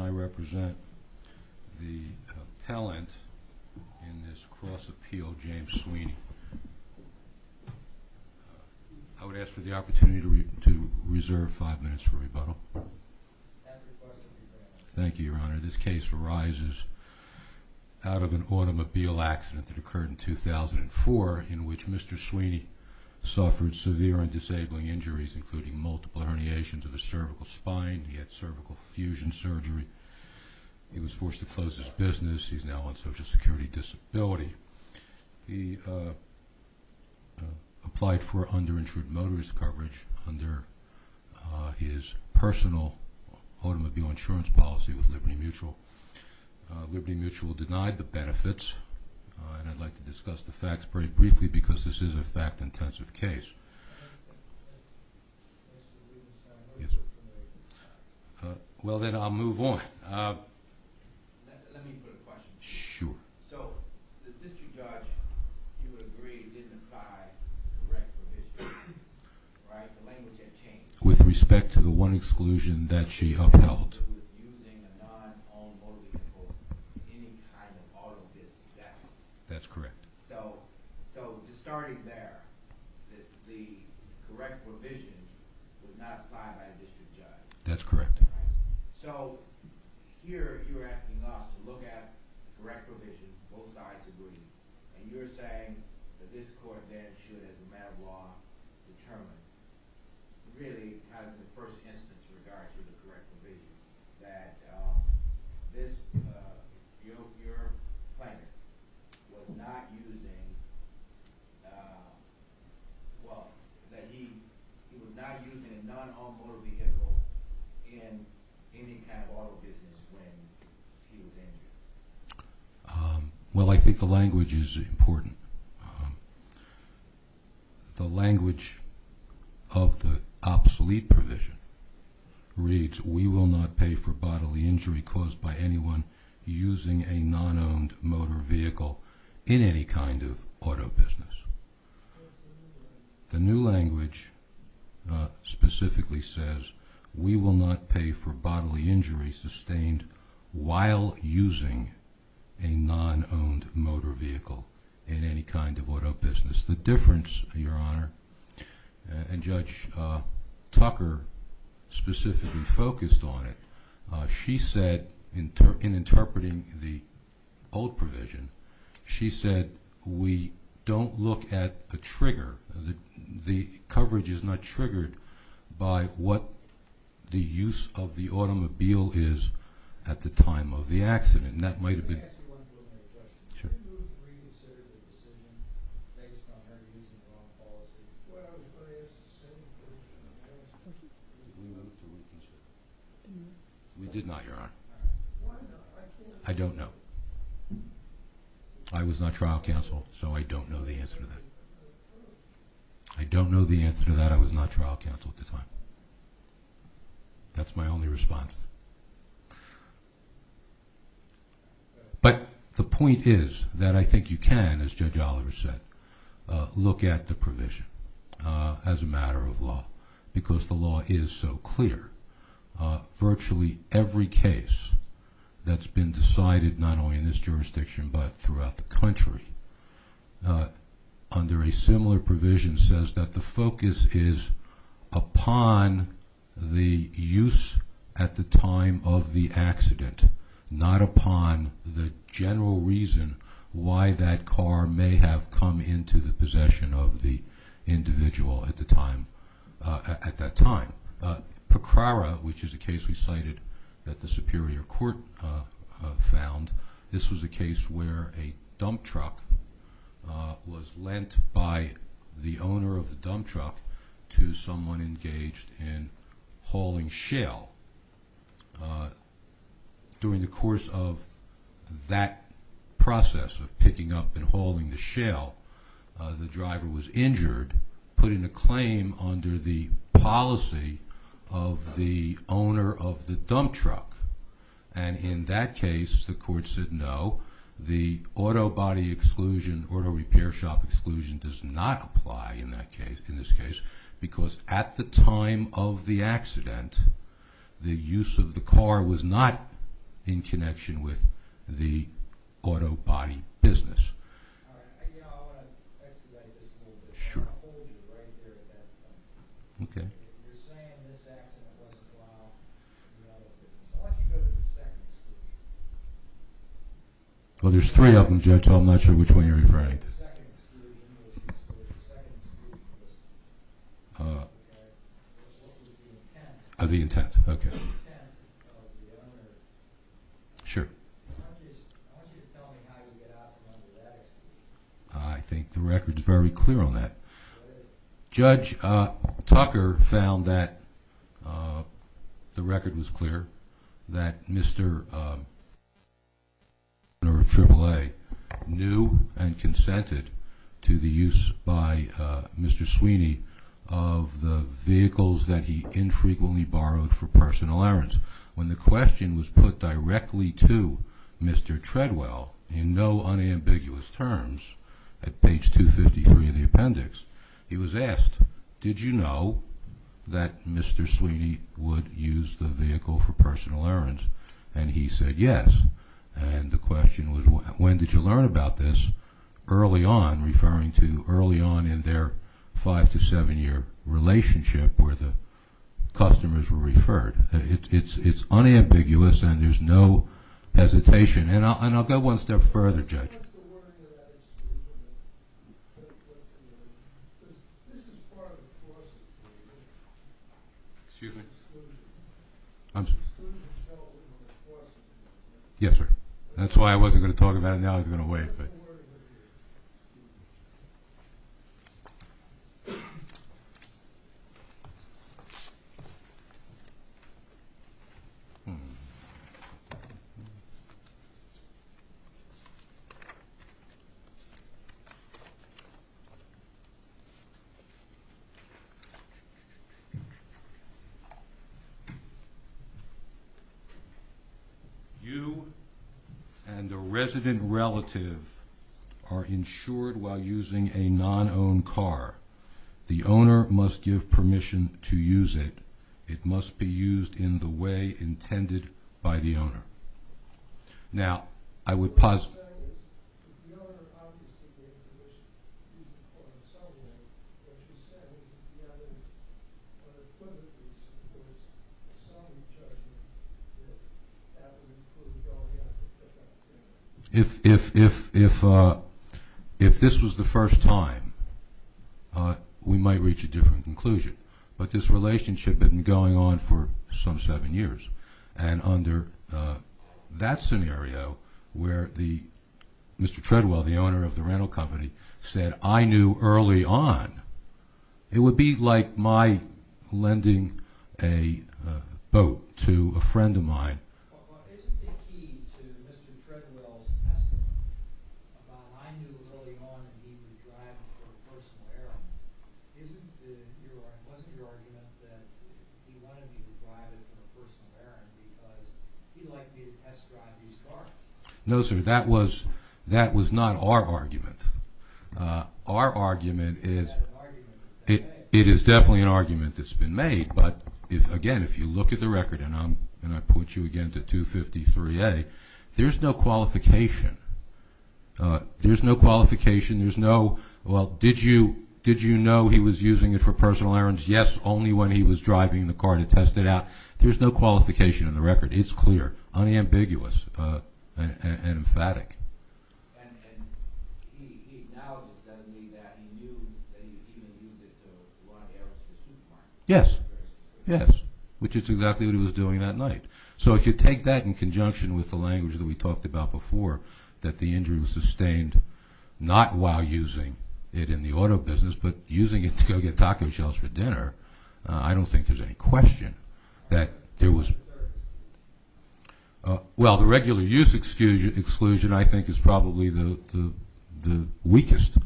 I represent the appellant in this cross-appeal, James Sweeney. I would ask for the opportunity to reserve five minutes for rebuttal. Thank you, Your Honor. This case arises out of an automobile accident that occurred in 2004 in which Mr. Sweeney suffered severe and disabling injuries including multiple He was forced to close his business. He's now on social security disability. He applied for underinsured motorist coverage under his personal automobile insurance policy with Liberty Mutual. Liberty Mutual denied the benefits, and I'd like to discuss the facts very briefly because this is a fact-intensive case. Well, then I'll move on. Let me put a question to you. Sure. So the district judge, you would agree, didn't apply to the rest of the district, right? The language had changed. With respect to the one exclusion that she upheld. Using a non-owned motor vehicle for any kind of automobile accident. That's correct. So just starting there, the correct provision was not applied by the district judge. That's correct. So here you're asking us to look at the correct provision, both sides agree, and you're saying that this court then should, as a matter of law, determine really kind of the first instance in regards to the correct provision. That your plaintiff was not using, well, that he was not using a non-owned motor vehicle in any kind of auto business when he was injured. Well, I think the language is important. The language of the obsolete provision reads, we will not pay for bodily injury caused by anyone using a non-owned motor vehicle in any kind of auto business. The new language specifically says, we will not pay for bodily injury sustained while using a non-owned motor vehicle in any kind of auto business. The difference, Your Honor, and Judge Tucker specifically focused on it, she said in interpreting the old provision, she said we don't look at a trigger. The coverage is not triggered by what the use of the automobile is at the time of the accident. And that might have been... Can I ask you one more question? Sure. Did you reconsider the decision based on her using the wrong policy? Well, I asked the same question. We did not, Your Honor. Why not? I don't know. I was not trial counsel, so I don't know the answer to that. I don't know the answer to that. I was not trial counsel at the time. That's my only response. But the point is that I think you can, as Judge Oliver said, look at the provision as a matter of law because the law is so clear. Virtually every case that's been decided not only in this jurisdiction but throughout the country under a similar provision says that the focus is upon the use at the time of the accident, not upon the general reason why that car may have come into the possession of the individual at that time. PCRARA, which is a case we cited that the Superior Court found, this was a case where a dump truck was lent by the owner of the dump truck to someone engaged in hauling shale. During the course of that process of picking up and hauling the shale, the driver was injured, putting a claim under the policy of the owner of the dump truck. And in that case, the court said no. The auto body exclusion, auto repair shop exclusion does not apply in this case because at the time of the accident, the use of the car was not in connection with the auto body business. I want to ask you about this a little bit. I'll hold you right there at that point. You're saying this accident wasn't while you were out of business. I want you to go to the second exclusion. Well, there's three of them, Judge. I'm not sure which one you're referring to. The second exclusion, which is where the second exclusion was. What was the intent of the owner? Sure. I want you to tell me how you get out from under that. I think the record's very clear on that. Judge Tucker found that the record was clear, that Mr. Turner of Triple A knew and consented to the use by Mr. Sweeney of the vehicles that he infrequently borrowed for personal errands. When the question was put directly to Mr. Treadwell in no unambiguous terms at page 253 of the appendix, he was asked, did you know that Mr. Sweeney would use the vehicle for personal errands? And he said yes. And the question was, when did you learn about this early on, referring to early on in their five- to seven-year relationship where the customers were referred? It's unambiguous, and there's no hesitation. And I'll go one step further, Judge. What's the wording of that exclusion? Because this is part of the process. Excuse me? Exclusion. I'm sorry? Exclusion is held in the process. Yes, sir. That's the wording of it. Thank you. while using a non-owned car. The owner must give permission to use it. It must be used in the way intended by the owner. If this was the first time, we might reach a different conclusion. But this relationship had been going on for some seven years. And under that scenario, where Mr. Treadwell, the owner of the rental company, said, I knew early on, it would be like my lending a boat to a friend of mine. No, sir. That was not our argument. Our argument is it is definitely an argument that's been made. But again, if you look at the record, and I point you again to 253A, there's no qualification. There's no qualification. There's no, well, did you know he was using it for personal errands? Yes, only when he was driving the car to test it out. There's no qualification in the record. It's clear, unambiguous, and emphatic. And he acknowledges, doesn't he, that he knew that he was going to use it to run errands for his new client? Yes. Yes, which is exactly what he was doing that night. So if you take that in conjunction with the language that we talked about before, that the injury was sustained not while using it in the auto business, but using it to go get taco shells for dinner, I don't think there's any question that there was. Well, the regular use exclusion, I think, is probably the weakest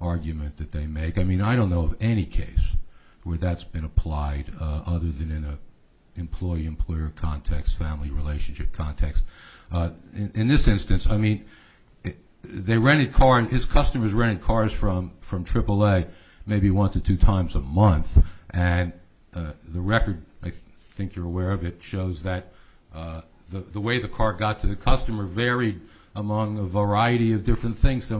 argument that they make. I mean, I don't know of any case where that's been applied other than in an employee-employer context, family-relationship context. In this instance, I mean, they rented cars, his customers rented cars from AAA maybe one to two times a month. And the record, I think you're aware of it, shows that the way the car got to the customer varied among a variety of different things.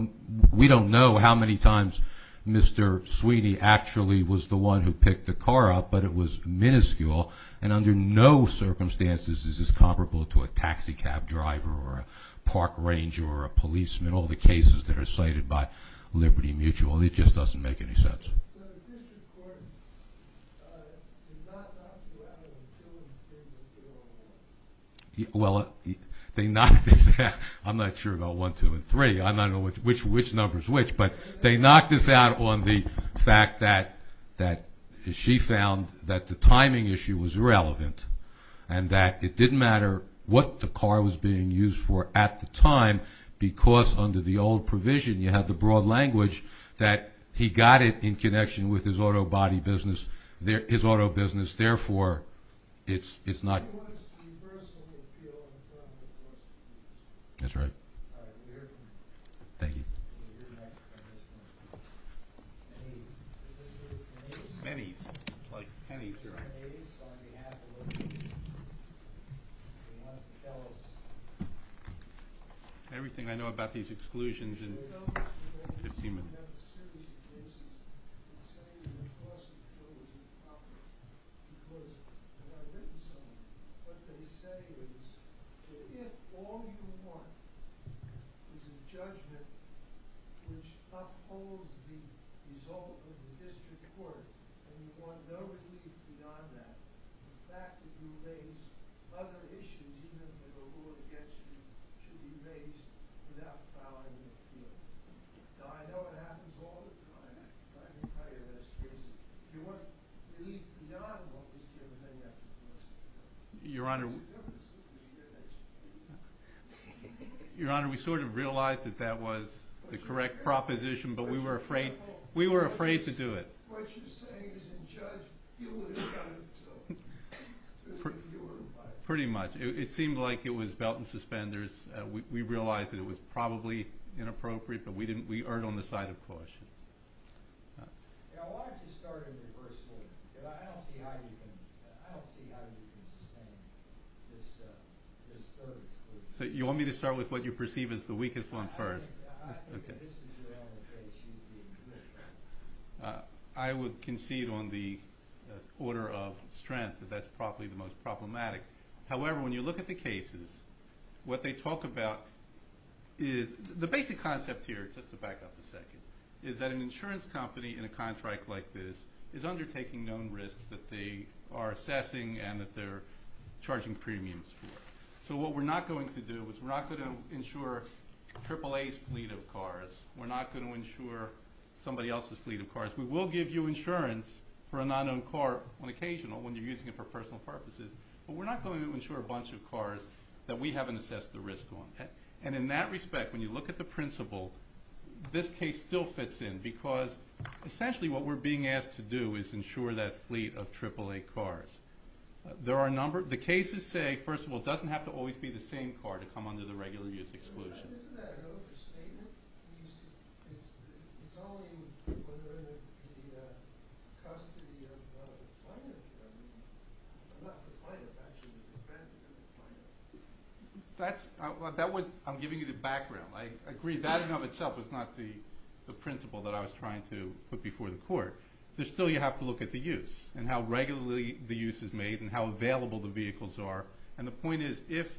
We don't know how many times Mr. Sweeney actually was the one who picked the car up, but it was minuscule. And under no circumstances is this comparable to a taxi cab driver or a park ranger or a policeman, all the cases that are cited by Liberty Mutual. It just doesn't make any sense. So the district court did not knock you out of the children's prison in 2001? Well, they knocked us out. I'm not sure about one, two, and three. I don't know which number is which. But they knocked us out on the fact that she found that the timing issue was irrelevant and that it didn't matter what the car was being used for at the time because under the old provision, you have the broad language, that he got it in connection with his auto body business, his auto business. Therefore, it's not. How much do you personally feel in front of the court? That's right. Thank you. Pennies, like pennies, you're right. Everything I know about these exclusions in 15 minutes. And I'm going to say that of course it was improper because when I've written somewhere, what they say is that if all you want is a judgment which upholds the result of the district court and you want no relief beyond that, the fact that you raise other issues, even if they're rural against you, should be raised without violating the appeal. Now I know it happens all the time, but I can tell you in this case, you want relief beyond what was given to you after the first time. That's the difference between you and that district. Your Honor, we sort of realized that that was the correct proposition, but we were afraid to do it. What you're saying is in judge, you would have done it too. Pretty much. It seemed like it was belt and suspenders. We realized that it was probably inappropriate, but we erred on the side of caution. So you want me to start with what you perceive as the weakest one first? I think that this is around the traits you'd be in favor of. I would concede on the order of strength that that's probably the most problematic. However, when you look at the cases, what they talk about is the basic concept here, just to back up a second, is that an insurance company in a contract like this is undertaking known risks that they are assessing and that they're charging premiums for. So what we're not going to do is we're not going to insure AAA's fleet of cars. We're not going to insure somebody else's fleet of cars. We will give you insurance for a non-owned car on occasional when you're using it for personal purposes, but we're not going to insure a bunch of cars that we haven't assessed the risk on. And in that respect, when you look at the principle, this case still fits in because essentially what we're being asked to do is insure that fleet of AAA cars. The cases say, first of all, it doesn't have to always be the same car to come under the regular use exclusion. I'm giving you the background. I agree that in and of itself was not the principle that I was trying to put before the court. Still, you have to look at the use and how regularly the use is made and how available the vehicles are. And the point is, if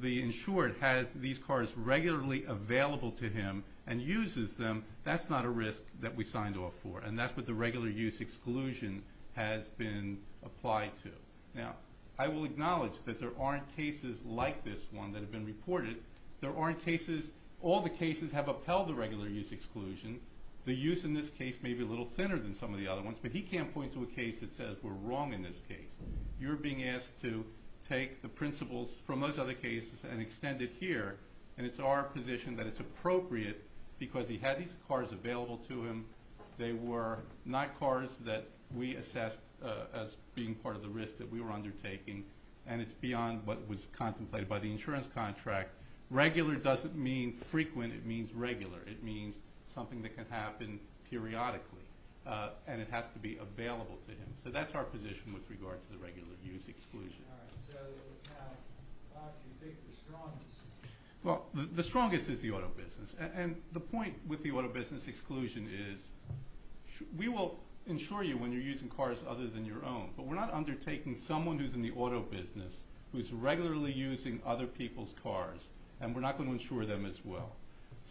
the insured has these cars regularly available to him and uses them, that's not a risk that we signed off for, and that's what the regular use exclusion has been applied to. Now, I will acknowledge that there aren't cases like this one that have been reported. There aren't cases – all the cases have upheld the regular use exclusion. The use in this case may be a little thinner than some of the other ones, but he can't point to a case that says we're wrong in this case. You're being asked to take the principles from those other cases and extend it here, and it's our position that it's appropriate because he had these cars available to him. They were not cars that we assessed as being part of the risk that we were undertaking, and it's beyond what was contemplated by the insurance contract. Regular doesn't mean frequent. It means regular. It means something that can happen periodically, and it has to be available to him. So that's our position with regard to the regular use exclusion. All right. So how do you think the strongest is? Well, the strongest is the auto business. And the point with the auto business exclusion is we will insure you when you're using cars other than your own, but we're not undertaking someone who's in the auto business who's regularly using other people's cars, and we're not going to insure them as well.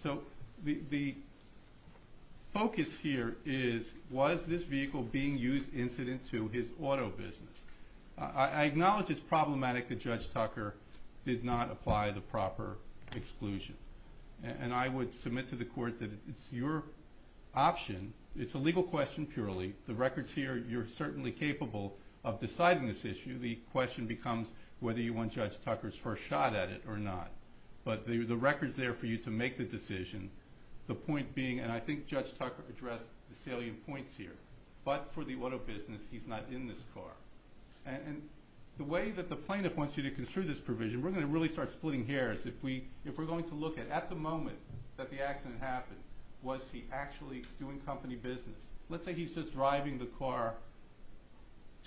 So the focus here is was this vehicle being used incident to his auto business? I acknowledge it's problematic that Judge Tucker did not apply the proper exclusion, and I would submit to the court that it's your option. It's a legal question purely. The record's here. You're certainly capable of deciding this issue. The question becomes whether you want Judge Tucker's first shot at it or not, but the record's there for you to make the decision. The point being, and I think Judge Tucker addressed the salient points here, but for the auto business, he's not in this car. And the way that the plaintiff wants you to construe this provision, we're going to really start splitting hairs. If we're going to look at at the moment that the accident happened, was he actually doing company business? Let's say he's just driving the car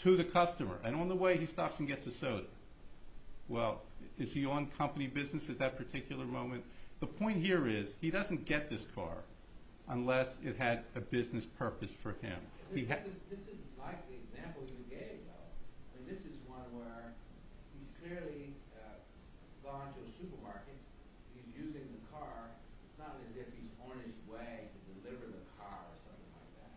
to the customer, and on the way he stops and gets a soda. Well, is he on company business at that particular moment? The point here is he doesn't get this car unless it had a business purpose for him. This is like the example you gave, though. This is one where he's clearly gone to a supermarket. He's using the car. It's not as if he's on his way to deliver the car or something like that.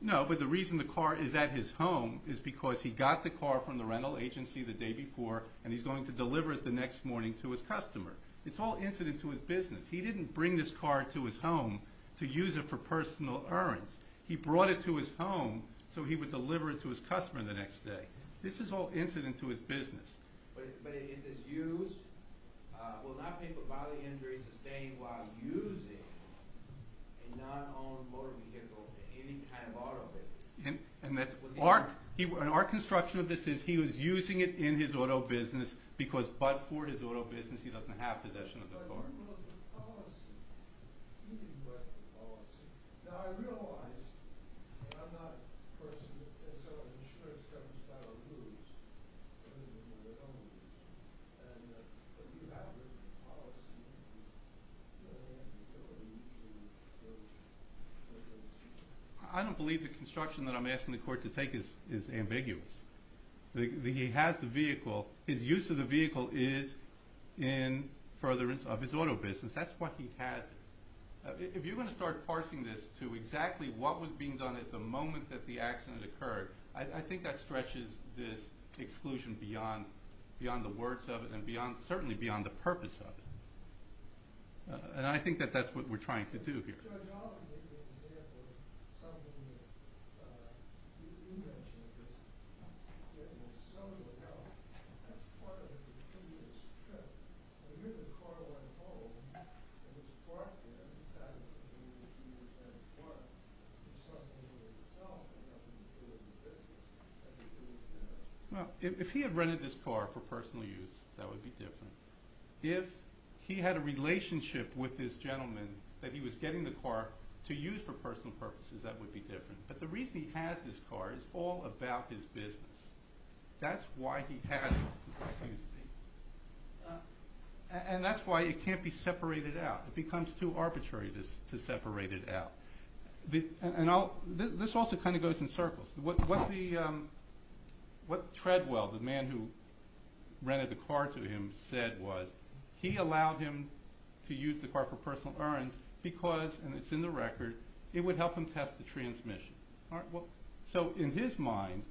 No, but the reason the car is at his home is because he got the car from the rental agency the day before, and he's going to deliver it the next morning to his customer. It's all incident to his business. He didn't bring this car to his home to use it for personal urns. He brought it to his home so he would deliver it to his customer the next day. This is all incident to his business. But is this used? Will not pay for bodily injuries sustained while using a non-owned motor vehicle in any kind of auto business? Our construction of this is he was using it in his auto business because but for his auto business, he doesn't have possession of the car. I don't believe the construction that I'm asking the court to take is ambiguous. He has the vehicle. His use of the vehicle is in furtherance of his auto business. That's why he has it. If you're going to start parsing this to exactly what was being done at the moment that the accident occurred, I think that stretches this exclusion beyond the words of it and certainly beyond the purpose of it. And I think that that's what we're trying to do here. If he had rented this car for personal use, that would be different. If he had a relationship with this gentleman that he was getting the car to use for personal purposes, that would be different. But the reason he has this car is all about his business. That's why he has it. And that's why it can't be separated out. It becomes too arbitrary to separate it out. This also kind of goes in circles. What Treadwell, the man who rented the car to him, said was he allowed him to use the car for personal earnings because, and it's in the record, it would help him test the transmission. So in his mind,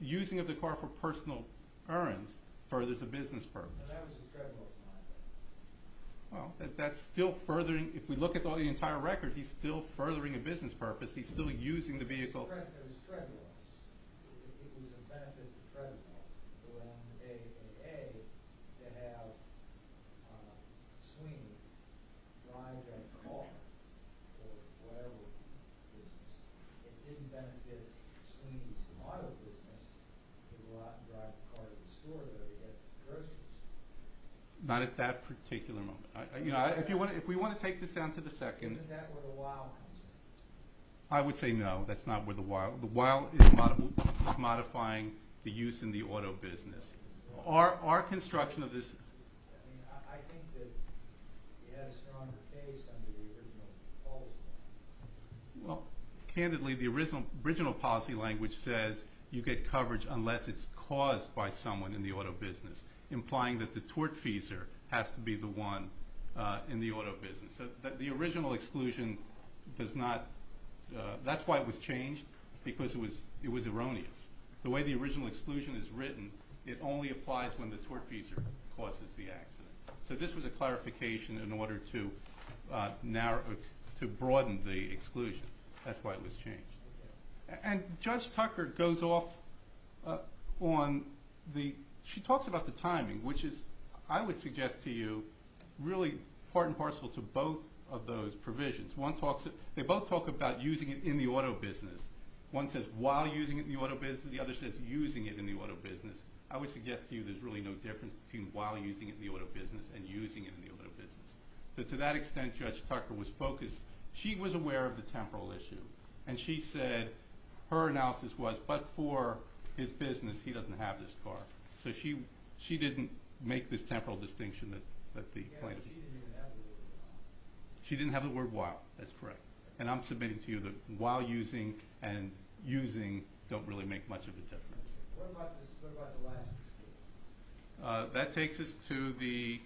using the car for personal earnings furthers a business purpose. Well, if we look at the entire record, he's still furthering a business purpose. He's still using the vehicle. There was Treadwells. It was a benefit to Treadwell around the day of A.A. to have Sweeney drive that car for whatever business. It didn't benefit Sweeney's auto business to go out and drive the car to the store to get groceries. Not at that particular moment. If we want to take this down to the second. Isn't that where the wow comes in? I would say no. That's not where the wow. The wow is modifying the use in the auto business. Our construction of this. Well, candidly, the original policy language says you get coverage unless it's caused by someone in the auto business. Implying that the tortfeasor has to be the one in the auto business. The original exclusion does not. That's why it was changed. Because it was erroneous. The way the original exclusion is written, it only applies when the tortfeasor causes the accident. So this was a clarification in order to broaden the exclusion. That's why it was changed. And Judge Tucker goes off on the... She talks about the timing, which is, I would suggest to you, really part and parcel to both of those provisions. They both talk about using it in the auto business. One says while using it in the auto business. The other says using it in the auto business. I would suggest to you there's really no difference between while using it in the auto business and using it in the auto business. So to that extent, Judge Tucker was focused. She was aware of the temporal issue. And she said her analysis was, but for his business, he doesn't have this car. So she didn't make this temporal distinction that the plaintiff... She didn't even have the word while. She didn't have the word while. That's correct. And I'm submitting to you that while using and using don't really make much of a difference. What about the last exclusion? That takes us to the...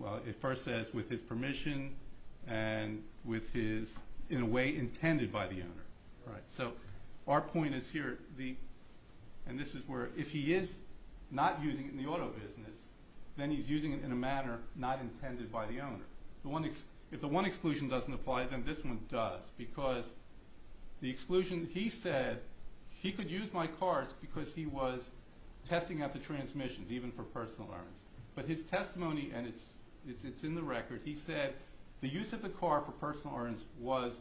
Well, it first says with his permission and with his, in a way, intended by the owner. So our point is here, and this is where if he is not using it in the auto business, then he's using it in a manner not intended by the owner. If the one exclusion doesn't apply, then this one does. Because the exclusion, he said he could use my cars because he was testing out the transmissions, even for personal urns. But his testimony, and it's in the record, he said the use of the car for personal urns was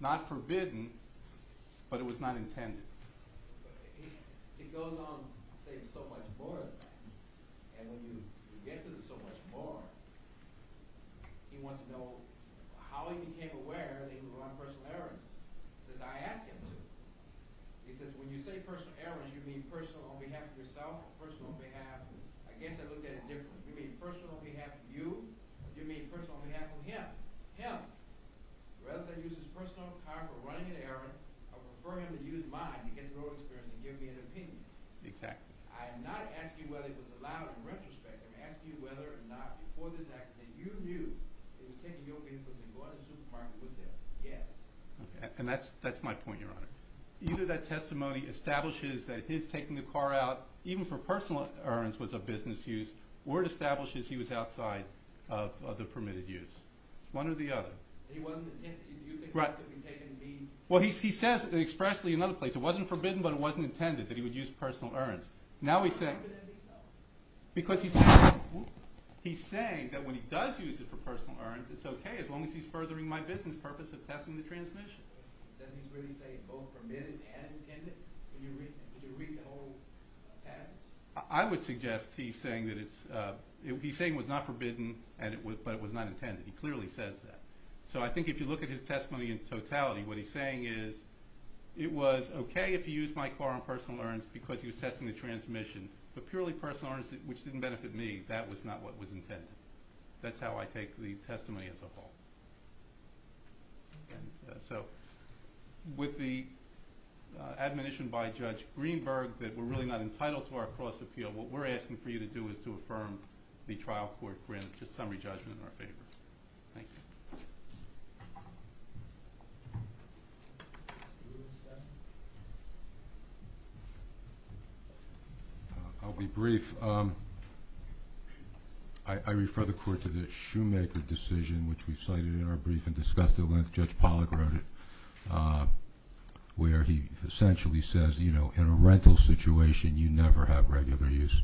not forbidden, but it was not intended. He goes on saying so much more than that. And when you get to the so much more, he wants to know how he became aware that he could run personal urns. He says, I asked him to. He says, when you say personal urns, you mean personal on behalf of yourself or personal on behalf... I guess I looked at it differently. You mean personal on behalf of you, or do you mean personal on behalf of him? Rather than use his personal car for running an errand, I prefer him to use mine to get the road experience and give me an opinion. Exactly. I am not asking you whether it was allowed in retrospect. I'm asking you whether or not before this accident you knew he was taking your vehicles and going to the supermarket with them. Yes. And that's my point, Your Honor. Either that testimony establishes that his taking the car out, even for personal urns, was a business use, or it establishes he was outside of the permitted use. It's one or the other. He wasn't intended... Right. ...to be taking me... Well, he says expressly in another place, it wasn't forbidden, but it wasn't intended that he would use personal urns. Now he's saying... How could that be so? Because he's saying that when he does use it for personal urns, it's okay as long as he's furthering my business purpose of testing the transmission. Does he really say both permitted and intended? Did you read the whole passage? I would suggest he's saying that it's... But it was not intended. He clearly says that. So I think if you look at his testimony in totality, what he's saying is it was okay if he used my car on personal urns because he was testing the transmission, but purely personal urns, which didn't benefit me, that was not what was intended. That's how I take the testimony as a whole. So with the admonition by Judge Greenberg that we're really not entitled to our cross-appeal, what we're asking for you to do is to affirm the trial court grant, the summary judgment in our favor. Thank you. I'll be brief. I refer the Court to the Shoemaker decision, which we cited in our brief and discussed at length. Judge Pollack wrote it, where he essentially says, you know, in a rental situation, you never have regular use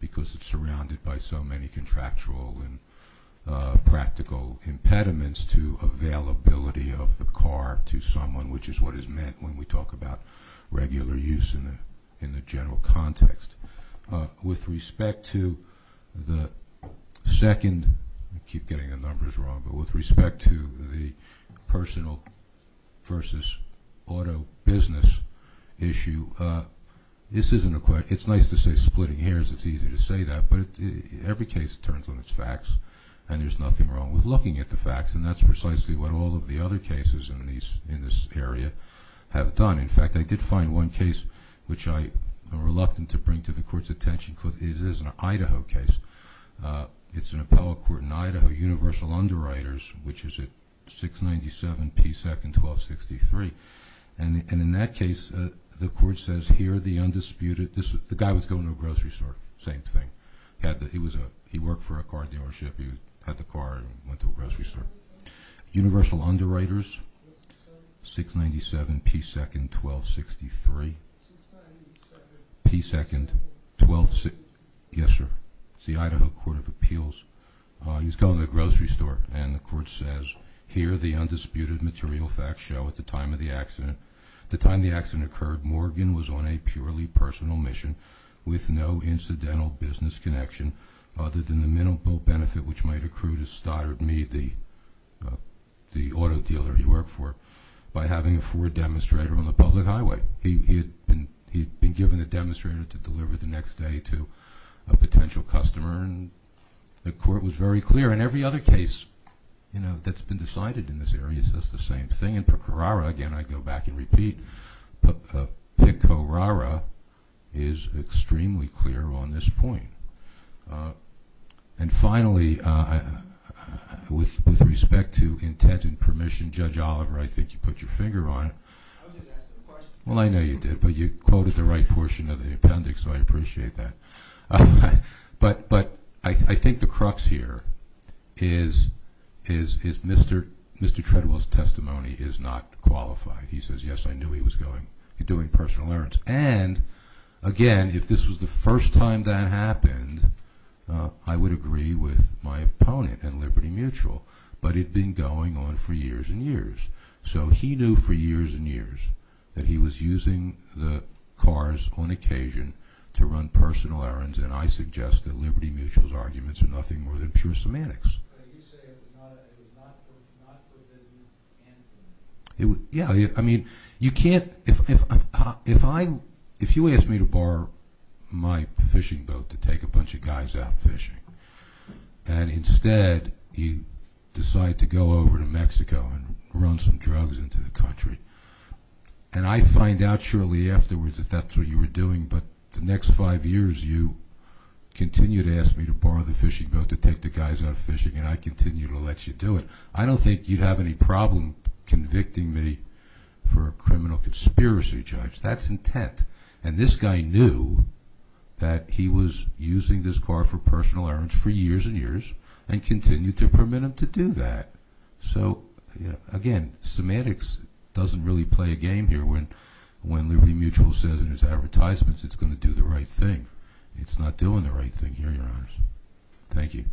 because it's surrounded by so many contractual and practical impediments to availability of the car to someone, which is what is meant when we talk about regular use in the general context. With respect to the second – I keep getting the numbers wrong, but with respect to the personal versus auto business issue, this isn't a – it's nice to say splitting hairs. It's easy to say that, but every case turns on its facts, and there's nothing wrong with looking at the facts, and that's precisely what all of the other cases in this area have done. In fact, I did find one case, which I am reluctant to bring to the Court's attention, because it is an Idaho case. It's an appellate court in Idaho, Universal Underwriters, which is at 697 P. 2nd, 1263. And in that case, the Court says, here are the undisputed – the guy was going to a grocery store. Same thing. He worked for a car dealership. He had the car and went to a grocery store. Universal Underwriters, 697 P. 2nd, 1263. P. 2nd, 12 – yes, sir. It's the Idaho Court of Appeals. He was going to a grocery store, and the Court says, here are the undisputed material facts show at the time of the accident. The time the accident occurred, Morgan was on a purely personal mission with no incidental business connection other than the minimal benefit which might accrue to Stoddard Mead, the auto dealer he worked for, by having a Ford demonstrator on the public highway. He had been given a demonstrator to deliver the next day to a potential customer, and the Court was very clear. And every other case, you know, that's been decided in this area says the same thing. Again, Pecoraro, again I go back and repeat, Pecoraro is extremely clear on this point. And finally, with respect to intent and permission, Judge Oliver, I think you put your finger on it. I was just asking a question. Well, I know you did, but you quoted the right portion of the appendix, so I appreciate that. But I think the crux here is Mr. Treadwell's testimony is not qualified. He says, yes, I knew he was doing personal errands. And again, if this was the first time that happened, I would agree with my opponent and Liberty Mutual, but it had been going on for years and years. So he knew for years and years that he was using the cars on occasion to run personal errands, and I suggest that Liberty Mutual's arguments are nothing more than pure semantics. Yeah, I mean, you can't, if I, if you ask me to borrow my fishing boat to take a bunch of guys out fishing, and instead you decide to go over to Mexico and run some drugs into the country. And I find out shortly afterwards that that's what you were doing, but the next five years you continue to ask me to borrow the fishing boat to take the guys out fishing, and I continue to let you do it. I don't think you'd have any problem convicting me for a criminal conspiracy, Judge. That's intent. And this guy knew that he was using this car for personal errands for years and years, and continued to permit him to do that. So, again, semantics doesn't really play a game here. When Liberty Mutual says in its advertisements it's going to do the right thing, it's not doing the right thing here, Your Honors. Thank you.